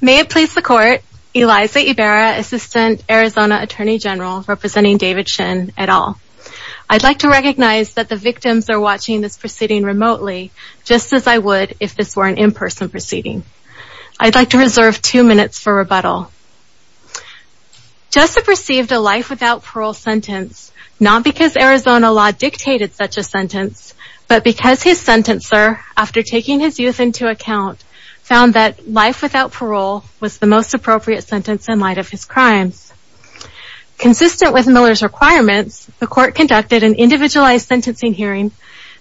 May it please the court, Eliza Ibarra, Assistant Arizona Attorney General, representing David Shinn, et al. I'd like to recognize that the victims are watching this proceeding remotely, just as I would if this were an in-person proceeding. I'd like to reserve two minutes for rebuttal. Jessup received a life without parole sentence, not because Arizona law dictated such a sentence, but because his sentencer, after taking his youth into account, found that life without parole was the most appropriate sentence in light of his crimes. Consistent with Miller's requirements, the court conducted an individualized sentencing hearing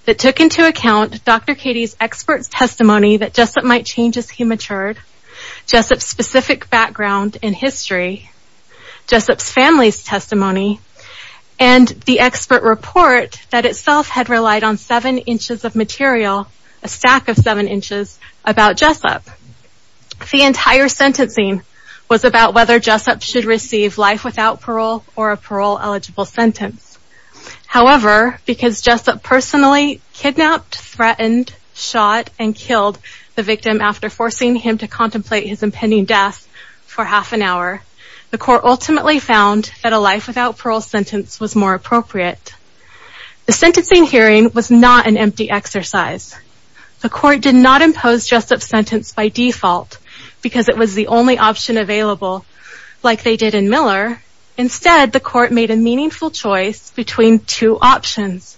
that took into account Dr. Katie's expert testimony that Jessup might change as he matured, Jessup's specific background and history, Jessup's family's testimony, and the expert report that itself had relied on seven inches of material, a stack of seven inches, about Jessup. The entire sentencing was about whether Jessup should receive life without parole or a parole eligible sentence. However, because Jessup personally kidnapped, threatened, shot, and killed the victim after forcing him to contemplate his impending death for half an hour, the court ultimately found that a life without parole sentence was more appropriate. The sentencing hearing was not an empty exercise. The court did not impose Jessup's sentence by default because it was the only option available, like they did in Miller. Instead, the court made a meaningful choice between two options.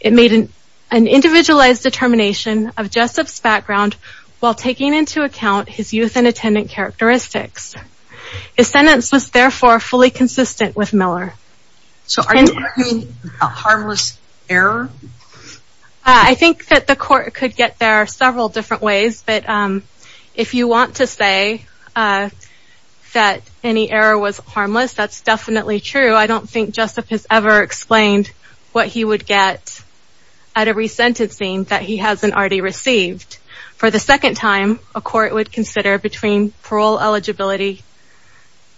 It made an individualized determination of Jessup's background while taking into account his youth and attendant characteristics. His sentence was therefore fully consistent with Miller. So are you arguing about harmless error? I think that the court could get there several different ways. But if you want to say that any error was harmless, that's definitely true. I don't think Jessup has ever explained what he would get out of resentencing that he hasn't already received. For the second time, a court would consider between parole eligibility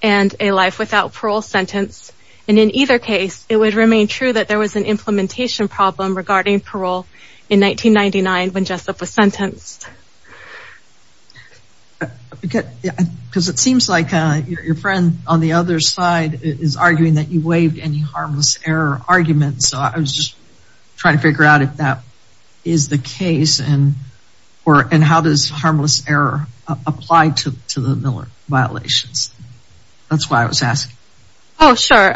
and a life without parole sentence. And in either case, it would remain true that there was an implementation problem regarding Because it seems like your friend on the other side is arguing that you waived any harmless error argument. So I was just trying to figure out if that is the case. And how does harmless error apply to the Miller violations? That's why I was asking. Oh, sure.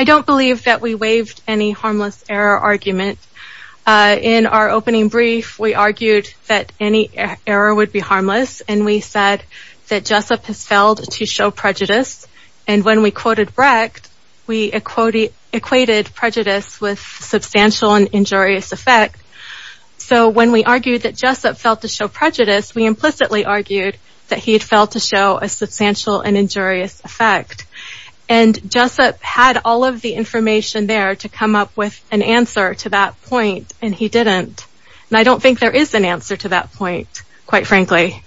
I don't believe that we waived any harmless error argument. In our opening brief, we argued that any error would be harmless. And we said that Jessup has failed to show prejudice. And when we quoted Brecht, we equated prejudice with substantial and injurious effect. So when we argued that Jessup failed to show prejudice, we implicitly argued that he had failed to show a substantial and injurious effect. And Jessup had all of the information there to come up with an answer to that point. And he didn't. And I don't think there is an answer to that point, quite frankly.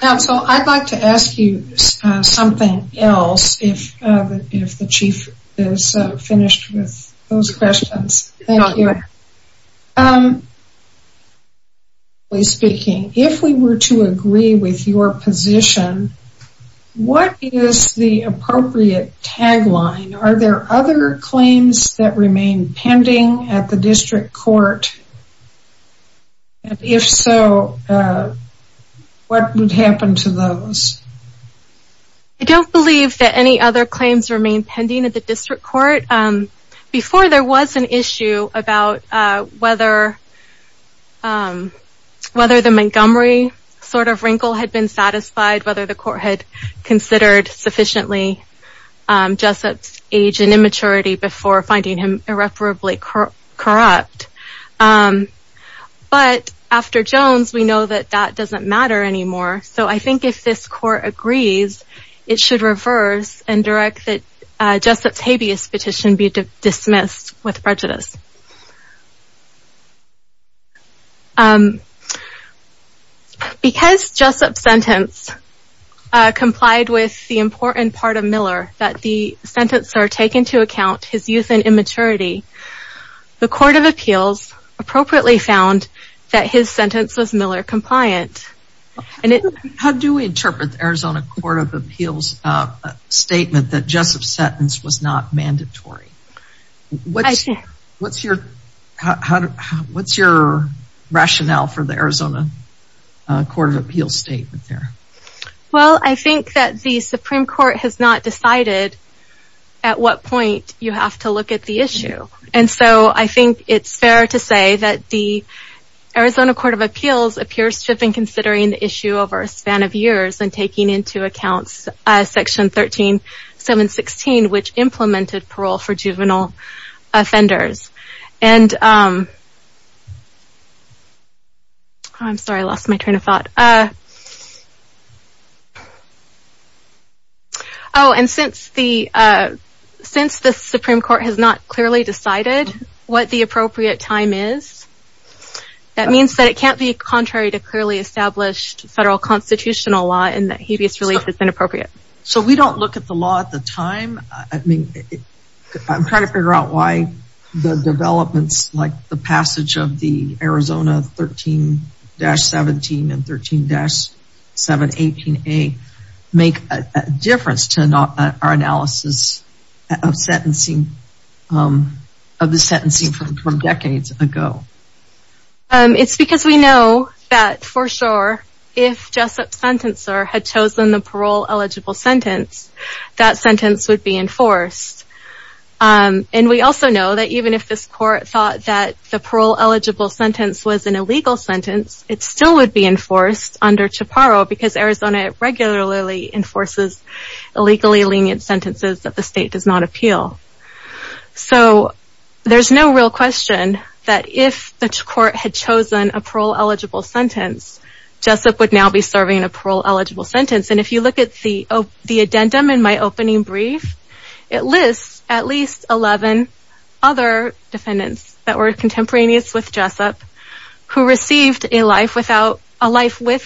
So I'd like to ask you something else if the Chief is finished with those questions. Thank you. If we were to agree with your position, what is the appropriate tagline? Are there other claims that remain pending at the District Court? If so, what would happen to those? I don't believe that any other claims remain pending at the District Court. Before, there was an issue about whether the Montgomery sort of wrinkle had been satisfied. Whether the Court had considered sufficiently Jessup's age and immaturity before finding him irreparably corrupt. But after Jones, we know that that doesn't matter anymore. So I think if this Court agrees, it should reverse and direct that Jessup's habeas petition be dismissed with prejudice. Because Jessup's sentence complied with the important part of Miller, that the sentencer take into account his youth and immaturity, the Court of Appeals appropriately found that his sentence was Miller compliant. How do we interpret the Arizona Court of Appeals statement that Jessup's sentence was not mandatory? What's your rationale for the Arizona Court of Appeals statement there? Well, I think that the Supreme Court has not decided at what point you have to look at the issue. And so I think it's fair to say that the Arizona Court of Appeals appears to have been considering the issue over a span of years and taking into account Section 13716, which implemented parole for juvenile offenders. Oh, and since the Supreme Court has not clearly decided what the appropriate time is, that means that it can't be contrary to clearly established federal constitutional law and that habeas relief is inappropriate. So we don't look at the law at the time? I'm trying to figure out why the developments like the passage of the Arizona 13-17 and 13-718A make a difference to our analysis of the sentencing from decades ago. It's because we know that for sure, if Jessup's sentencer had chosen the parole eligible sentence, that sentence would be enforced. And we also know that even if this court thought that the parole eligible sentence was an illegal sentence, it still would be enforced under CHPARO because Arizona regularly enforces illegally lenient sentences that the state does not appeal. So there's no real question that if the court had chosen a parole eligible sentence, Jessup would now be serving a parole eligible sentence. And if you look at the addendum in my opening brief, it lists at least 11 other defendants that were contemporaneous with Jessup who received a life with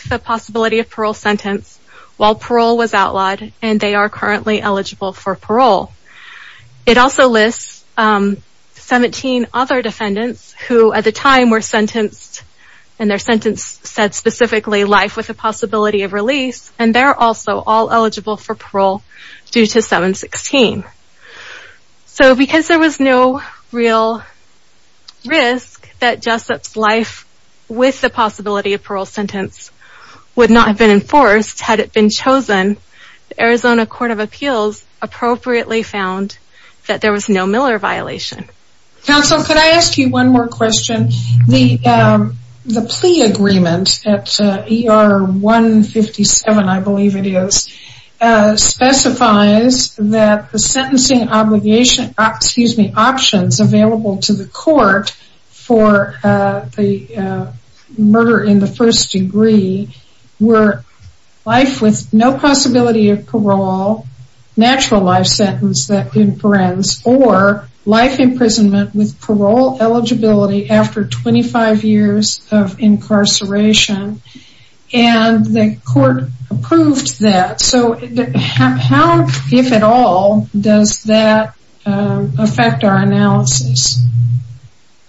the possibility of parole sentence while parole was outlawed and they are currently eligible for parole. It also lists 17 other defendants who at the time were sentenced and their sentence said specifically life with the possibility of release and they're also all eligible for parole due to 716. So because there was no real risk that Jessup's life with the possibility of parole sentence would not have been enforced had it been chosen, the Arizona Court of Appeals appropriately found that there was no Miller violation. Counsel, could I ask you one more question? The plea agreement at ER 157, I believe it is, specifies that the sentencing obligation, excuse me, options available to the court for the murder in the first degree were life with no possibility of parole, natural life sentence that imprints, or life imprisonment with parole eligibility after 25 years of incarceration and the court approved that. So how, if at all, does that affect our analysis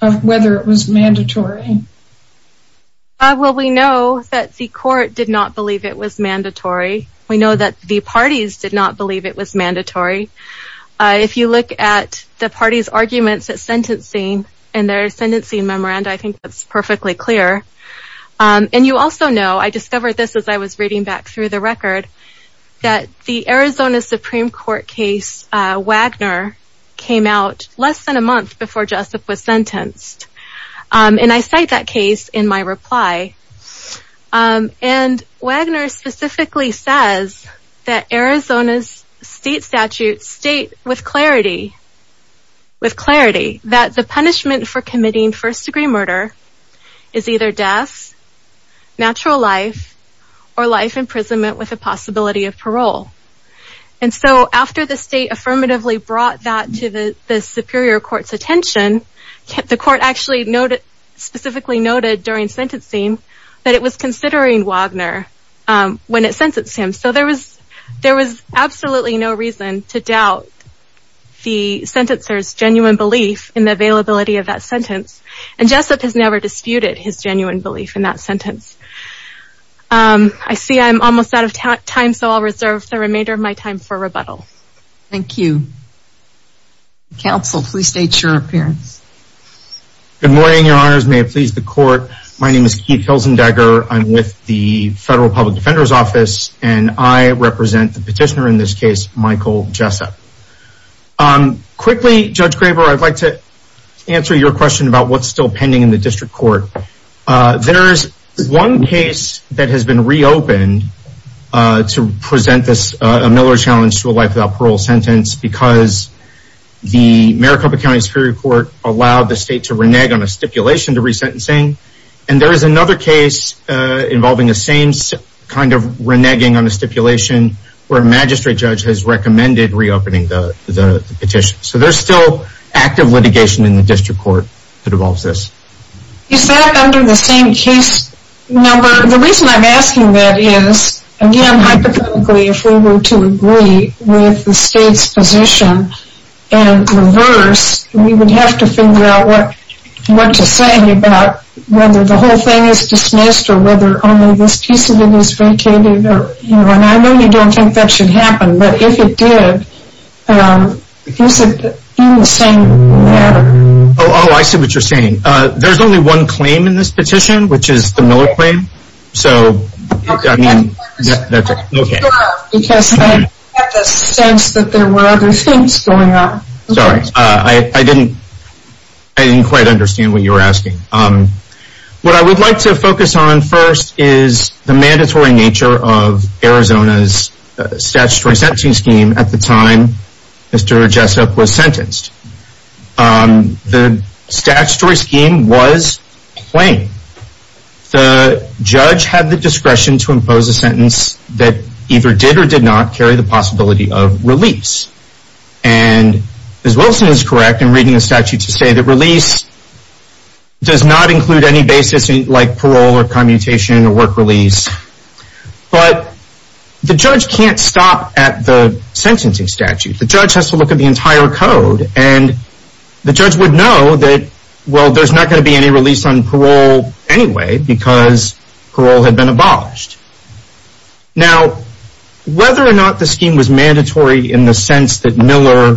of whether it was mandatory? Well, we know that the court did not believe it was mandatory. We know that the parties did not believe it was mandatory. If you look at the party's arguments at sentencing and their sentencing memoranda, I think that's perfectly clear. And you also know, I discovered this as I was reading back through the record, that the Arizona Supreme Court case Wagner came out less than a month before Jessup was sentenced. And I cite that case in my reply. And Wagner specifically says that Arizona's state statutes state with clarity that the punishment for committing first degree murder is either death, natural life, or life imprisonment with a possibility of parole. And so after the state affirmatively brought that to the superior court's attention, the court actually specifically noted during sentencing that it was considering Wagner when it sentenced him. So there was absolutely no reason to doubt the sentencer's genuine belief in the availability of that sentence. And Jessup has never disputed his genuine belief in that sentence. I see I'm almost out of time, so I'll reserve the remainder of my time for rebuttal. Thank you. Counsel, please state your appearance. Good morning, your honors. May it please the court. My name is Keith Hilzendegger. I'm with the Federal Public Defender's Office, and I represent the petitioner in this case, Michael Jessup. Quickly, Judge Graber, I'd like to answer your question about what's still pending in the district court. There is one case that has been reopened to present this Miller challenge to a life without parole sentence because the Maricopa County Superior Court allowed the state to renege on a stipulation to resentencing. And there is another case involving the same kind of reneging on a stipulation where a magistrate judge has recommended reopening the petition. So there's still active litigation in the district court that involves this. Is that under the same case number? The reason I'm asking that is, again, hypothetically, if we were to agree with the state's position and reverse, we would have to figure out what to say about whether the whole thing is dismissed or whether only this piece of it is vacated, and I really don't think that should happen, but if it did, is it in the same matter? Oh, I see what you're saying. There's only one claim in this petition, which is the Miller claim. So I mean, that's okay. Because I had the sense that there were other things going on. Sorry, I didn't quite understand what you were asking. What I would like to focus on first is the mandatory nature of Arizona's statutory sentencing scheme at the time Mr. Jessup was sentenced. The statutory scheme was plain. The judge had the discretion to impose a sentence that either did or did not carry the possibility of release. And Ms. Wilson is correct in reading the statute to say that release does not include any basis like parole or commutation or work release. But the judge can't stop at the sentencing statute. The judge has to look at the entire code, and the judge would know that, well, there's not going to be any release on parole anyway because parole had been abolished. Now whether or not the scheme was mandatory in the sense that Miller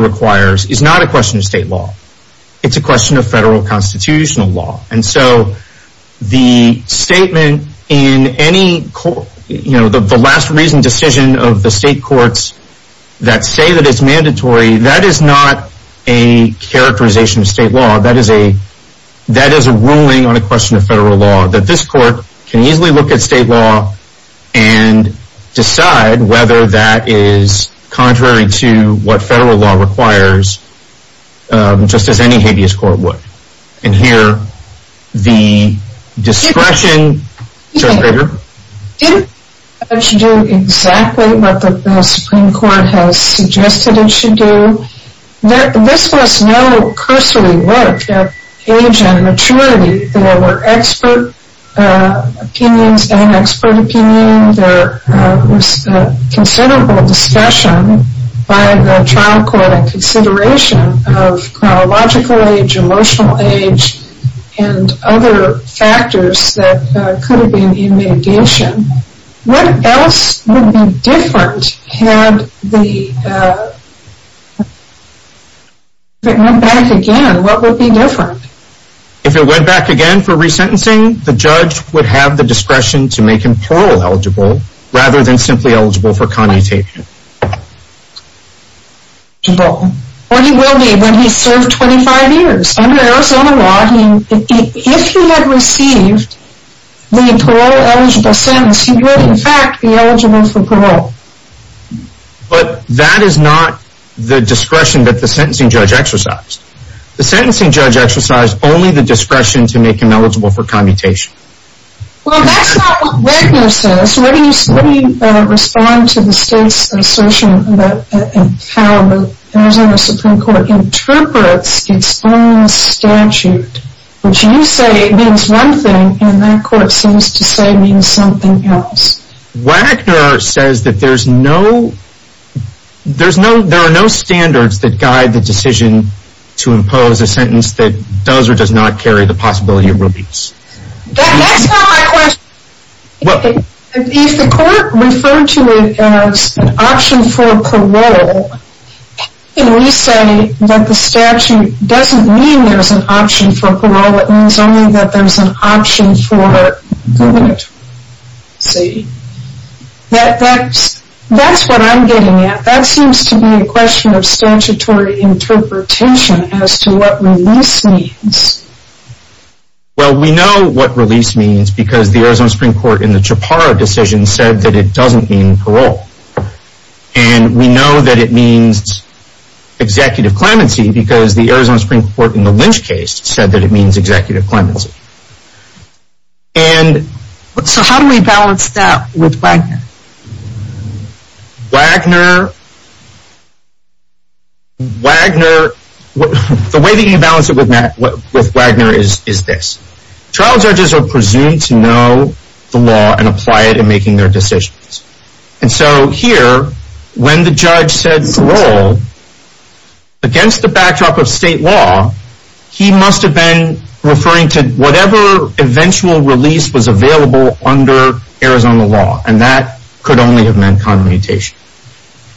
requires is not a question of state law. It's a question of federal constitutional law. And so the statement in any court, you know, the last reason decision of the state courts that say that it's mandatory, that is not a characterization of state law. That is a ruling on a question of federal law that this court can easily look at state law and decide whether that is contrary to what federal law requires just as any habeas court would. And here, the discretion, Judge Baker? Didn't the judge do exactly what the Supreme Court has suggested it should do? This was no cursory work of age and maturity. There were expert opinions and expert opinion. There was considerable discussion by the trial court in consideration of chronological age, emotional age, and other factors that could have been in mitigation. What else would be different had the, if it went back again, what would be different? If it went back again for resentencing, the judge would have the discretion to make him parole eligible rather than simply eligible for commutation. Or he will be when he's served 25 years. Under Arizona law, if he had received the parole eligible sentence, he would in fact be eligible for parole. But that is not the discretion that the sentencing judge exercised. The sentencing judge exercised only the discretion to make him eligible for commutation. Well, that's not what Wagner says. Let me respond to the state's assertion about how the Arizona Supreme Court interprets its own statute, which you say means one thing and that court seems to say means something else. Wagner says that there's no, there are no standards that guide the decision to impose a sentence that does or does not carry the possibility of rubies. That's not my question. If the court referred to it as an option for parole, how can we say that the statute doesn't mean there's an option for parole, it means only that there's an option for gubernatoriality? That's what I'm getting at. That seems to be a question of statutory interpretation as to what release means. Well, we know what release means because the Arizona Supreme Court in the Chaparra decision said that it doesn't mean parole. And we know that it means executive clemency because the Arizona Supreme Court in the Lynch case said that it means executive clemency. Wagner, the way that you balance it with Wagner is this. Trial judges are presumed to know the law and apply it in making their decisions. And so here, when the judge said parole, against the backdrop of state law, he must have been referring to whatever eventual release was available under Arizona law. And that could only have meant commutation.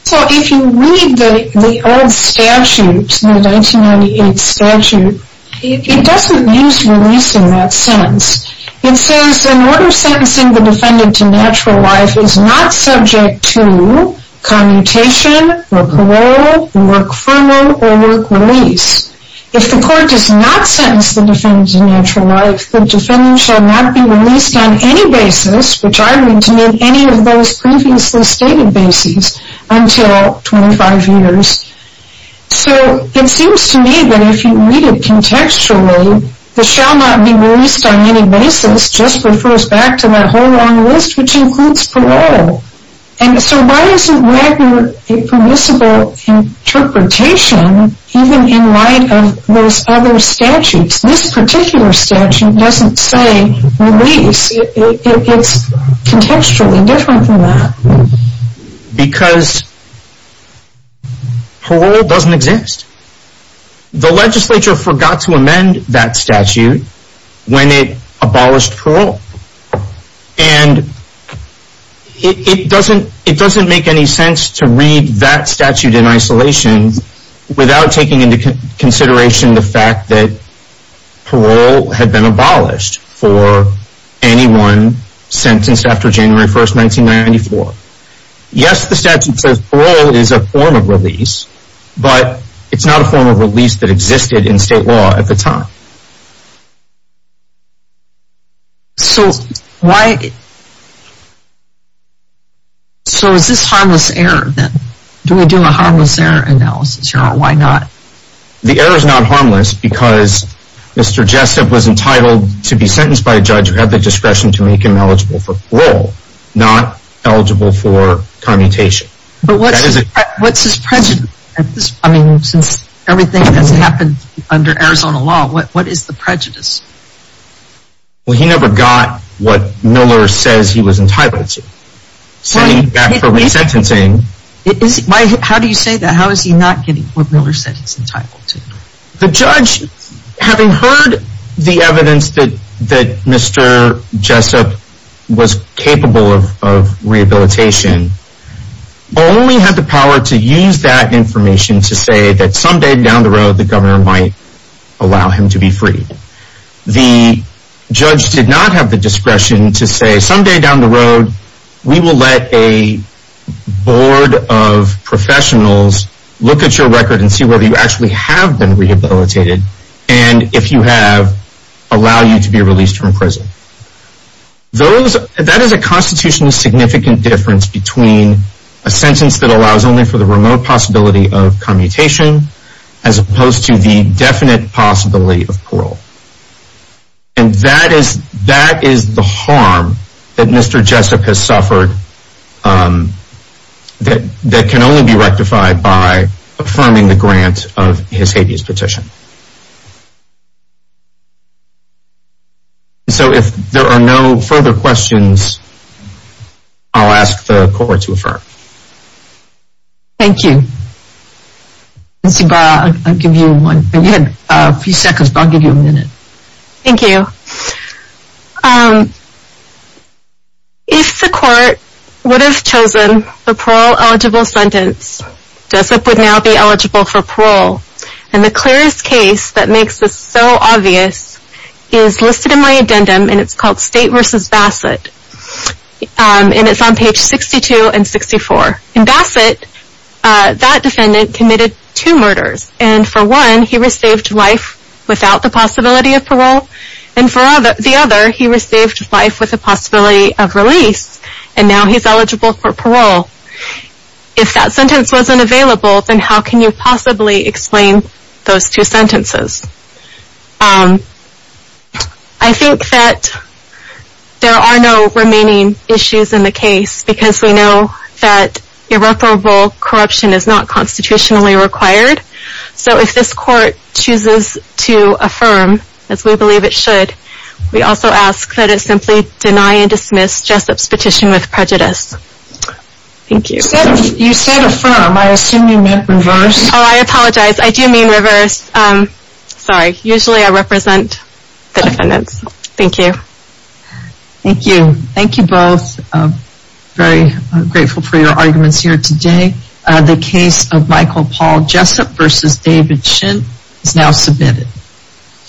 So if you read the old statute, the 1998 statute, it doesn't use release in that sense. It says, in order of sentencing the defendant to natural life is not subject to commutation or parole, work furlough, or work release. If the court does not sentence the defendant to natural life, the defendant shall not be released on any basis, which I read to mean any of those previously stated basis, until 25 years. So it seems to me that if you read it contextually, the shall not be released on any basis just refers back to that whole long list, which includes parole. So why isn't Wagner a permissible interpretation even in light of those other statutes? This particular statute doesn't say release. It's contextually different from that. Because parole doesn't exist. The legislature forgot to amend that statute when it abolished parole. And it doesn't make any sense to read that statute in isolation without taking into consideration the fact that parole had been abolished for anyone sentenced after January 1st, 1994. Yes, the statute says parole is a form of release, but it's not a form of release that existed in state law at the time. So, why, so is this harmless error then? Do we do a harmless error analysis here, or why not? The error is not harmless because Mr. Jessup was entitled to be sentenced by a judge who had the discretion to make him eligible for parole, not eligible for commutation. But what's his prejudice? I mean, since everything that's happened under Arizona law, what's his prejudice? What is the prejudice? Well, he never got what Miller says he was entitled to. So, he got for resentencing. How do you say that? How is he not getting what Miller said he's entitled to? The judge, having heard the evidence that Mr. Jessup was capable of rehabilitation, only had the power to use that information to say that someday down the road the governor might allow him to be freed. The judge did not have the discretion to say someday down the road we will let a board of professionals look at your record and see whether you actually have been rehabilitated, and if you have, allow you to be released from prison. Those, that is a constitutionally significant difference between a sentence that allows only for the remote possibility of commutation as opposed to the definite possibility of parole. And that is the harm that Mr. Jessup has suffered that can only be rectified by affirming the grant of his habeas petition. So, if there are no further questions, I'll ask the court to affirm. Thank you. Nancy Barr, I'll give you a minute. Thank you. If the court would have chosen a parole eligible sentence, Jessup would now be eligible for parole. And the clearest case that makes this so obvious is listed in my addendum, and it's called State v. Bassett. And it's on page 62 and 64. In Bassett, that defendant committed two murders. And for one, he received life without the possibility of parole. And for the other, he received life with the possibility of release. And now he's eligible for parole. If that sentence wasn't available, then how can you possibly explain those two sentences? I think that there are no remaining issues in the case, because we know that irreparable corruption is not constitutionally required. So if this court chooses to affirm, as we believe it should, we also ask that it simply deny and dismiss Jessup's petition with prejudice. Thank you. You said affirm. I assume you meant reverse? Oh, I apologize. I do mean reverse. Sorry, usually I represent the defendants. Thank you. Thank you. Thank you both. Very grateful for your arguments here today. The case of Michael Paul Jessup v. David Shinn is now submitted.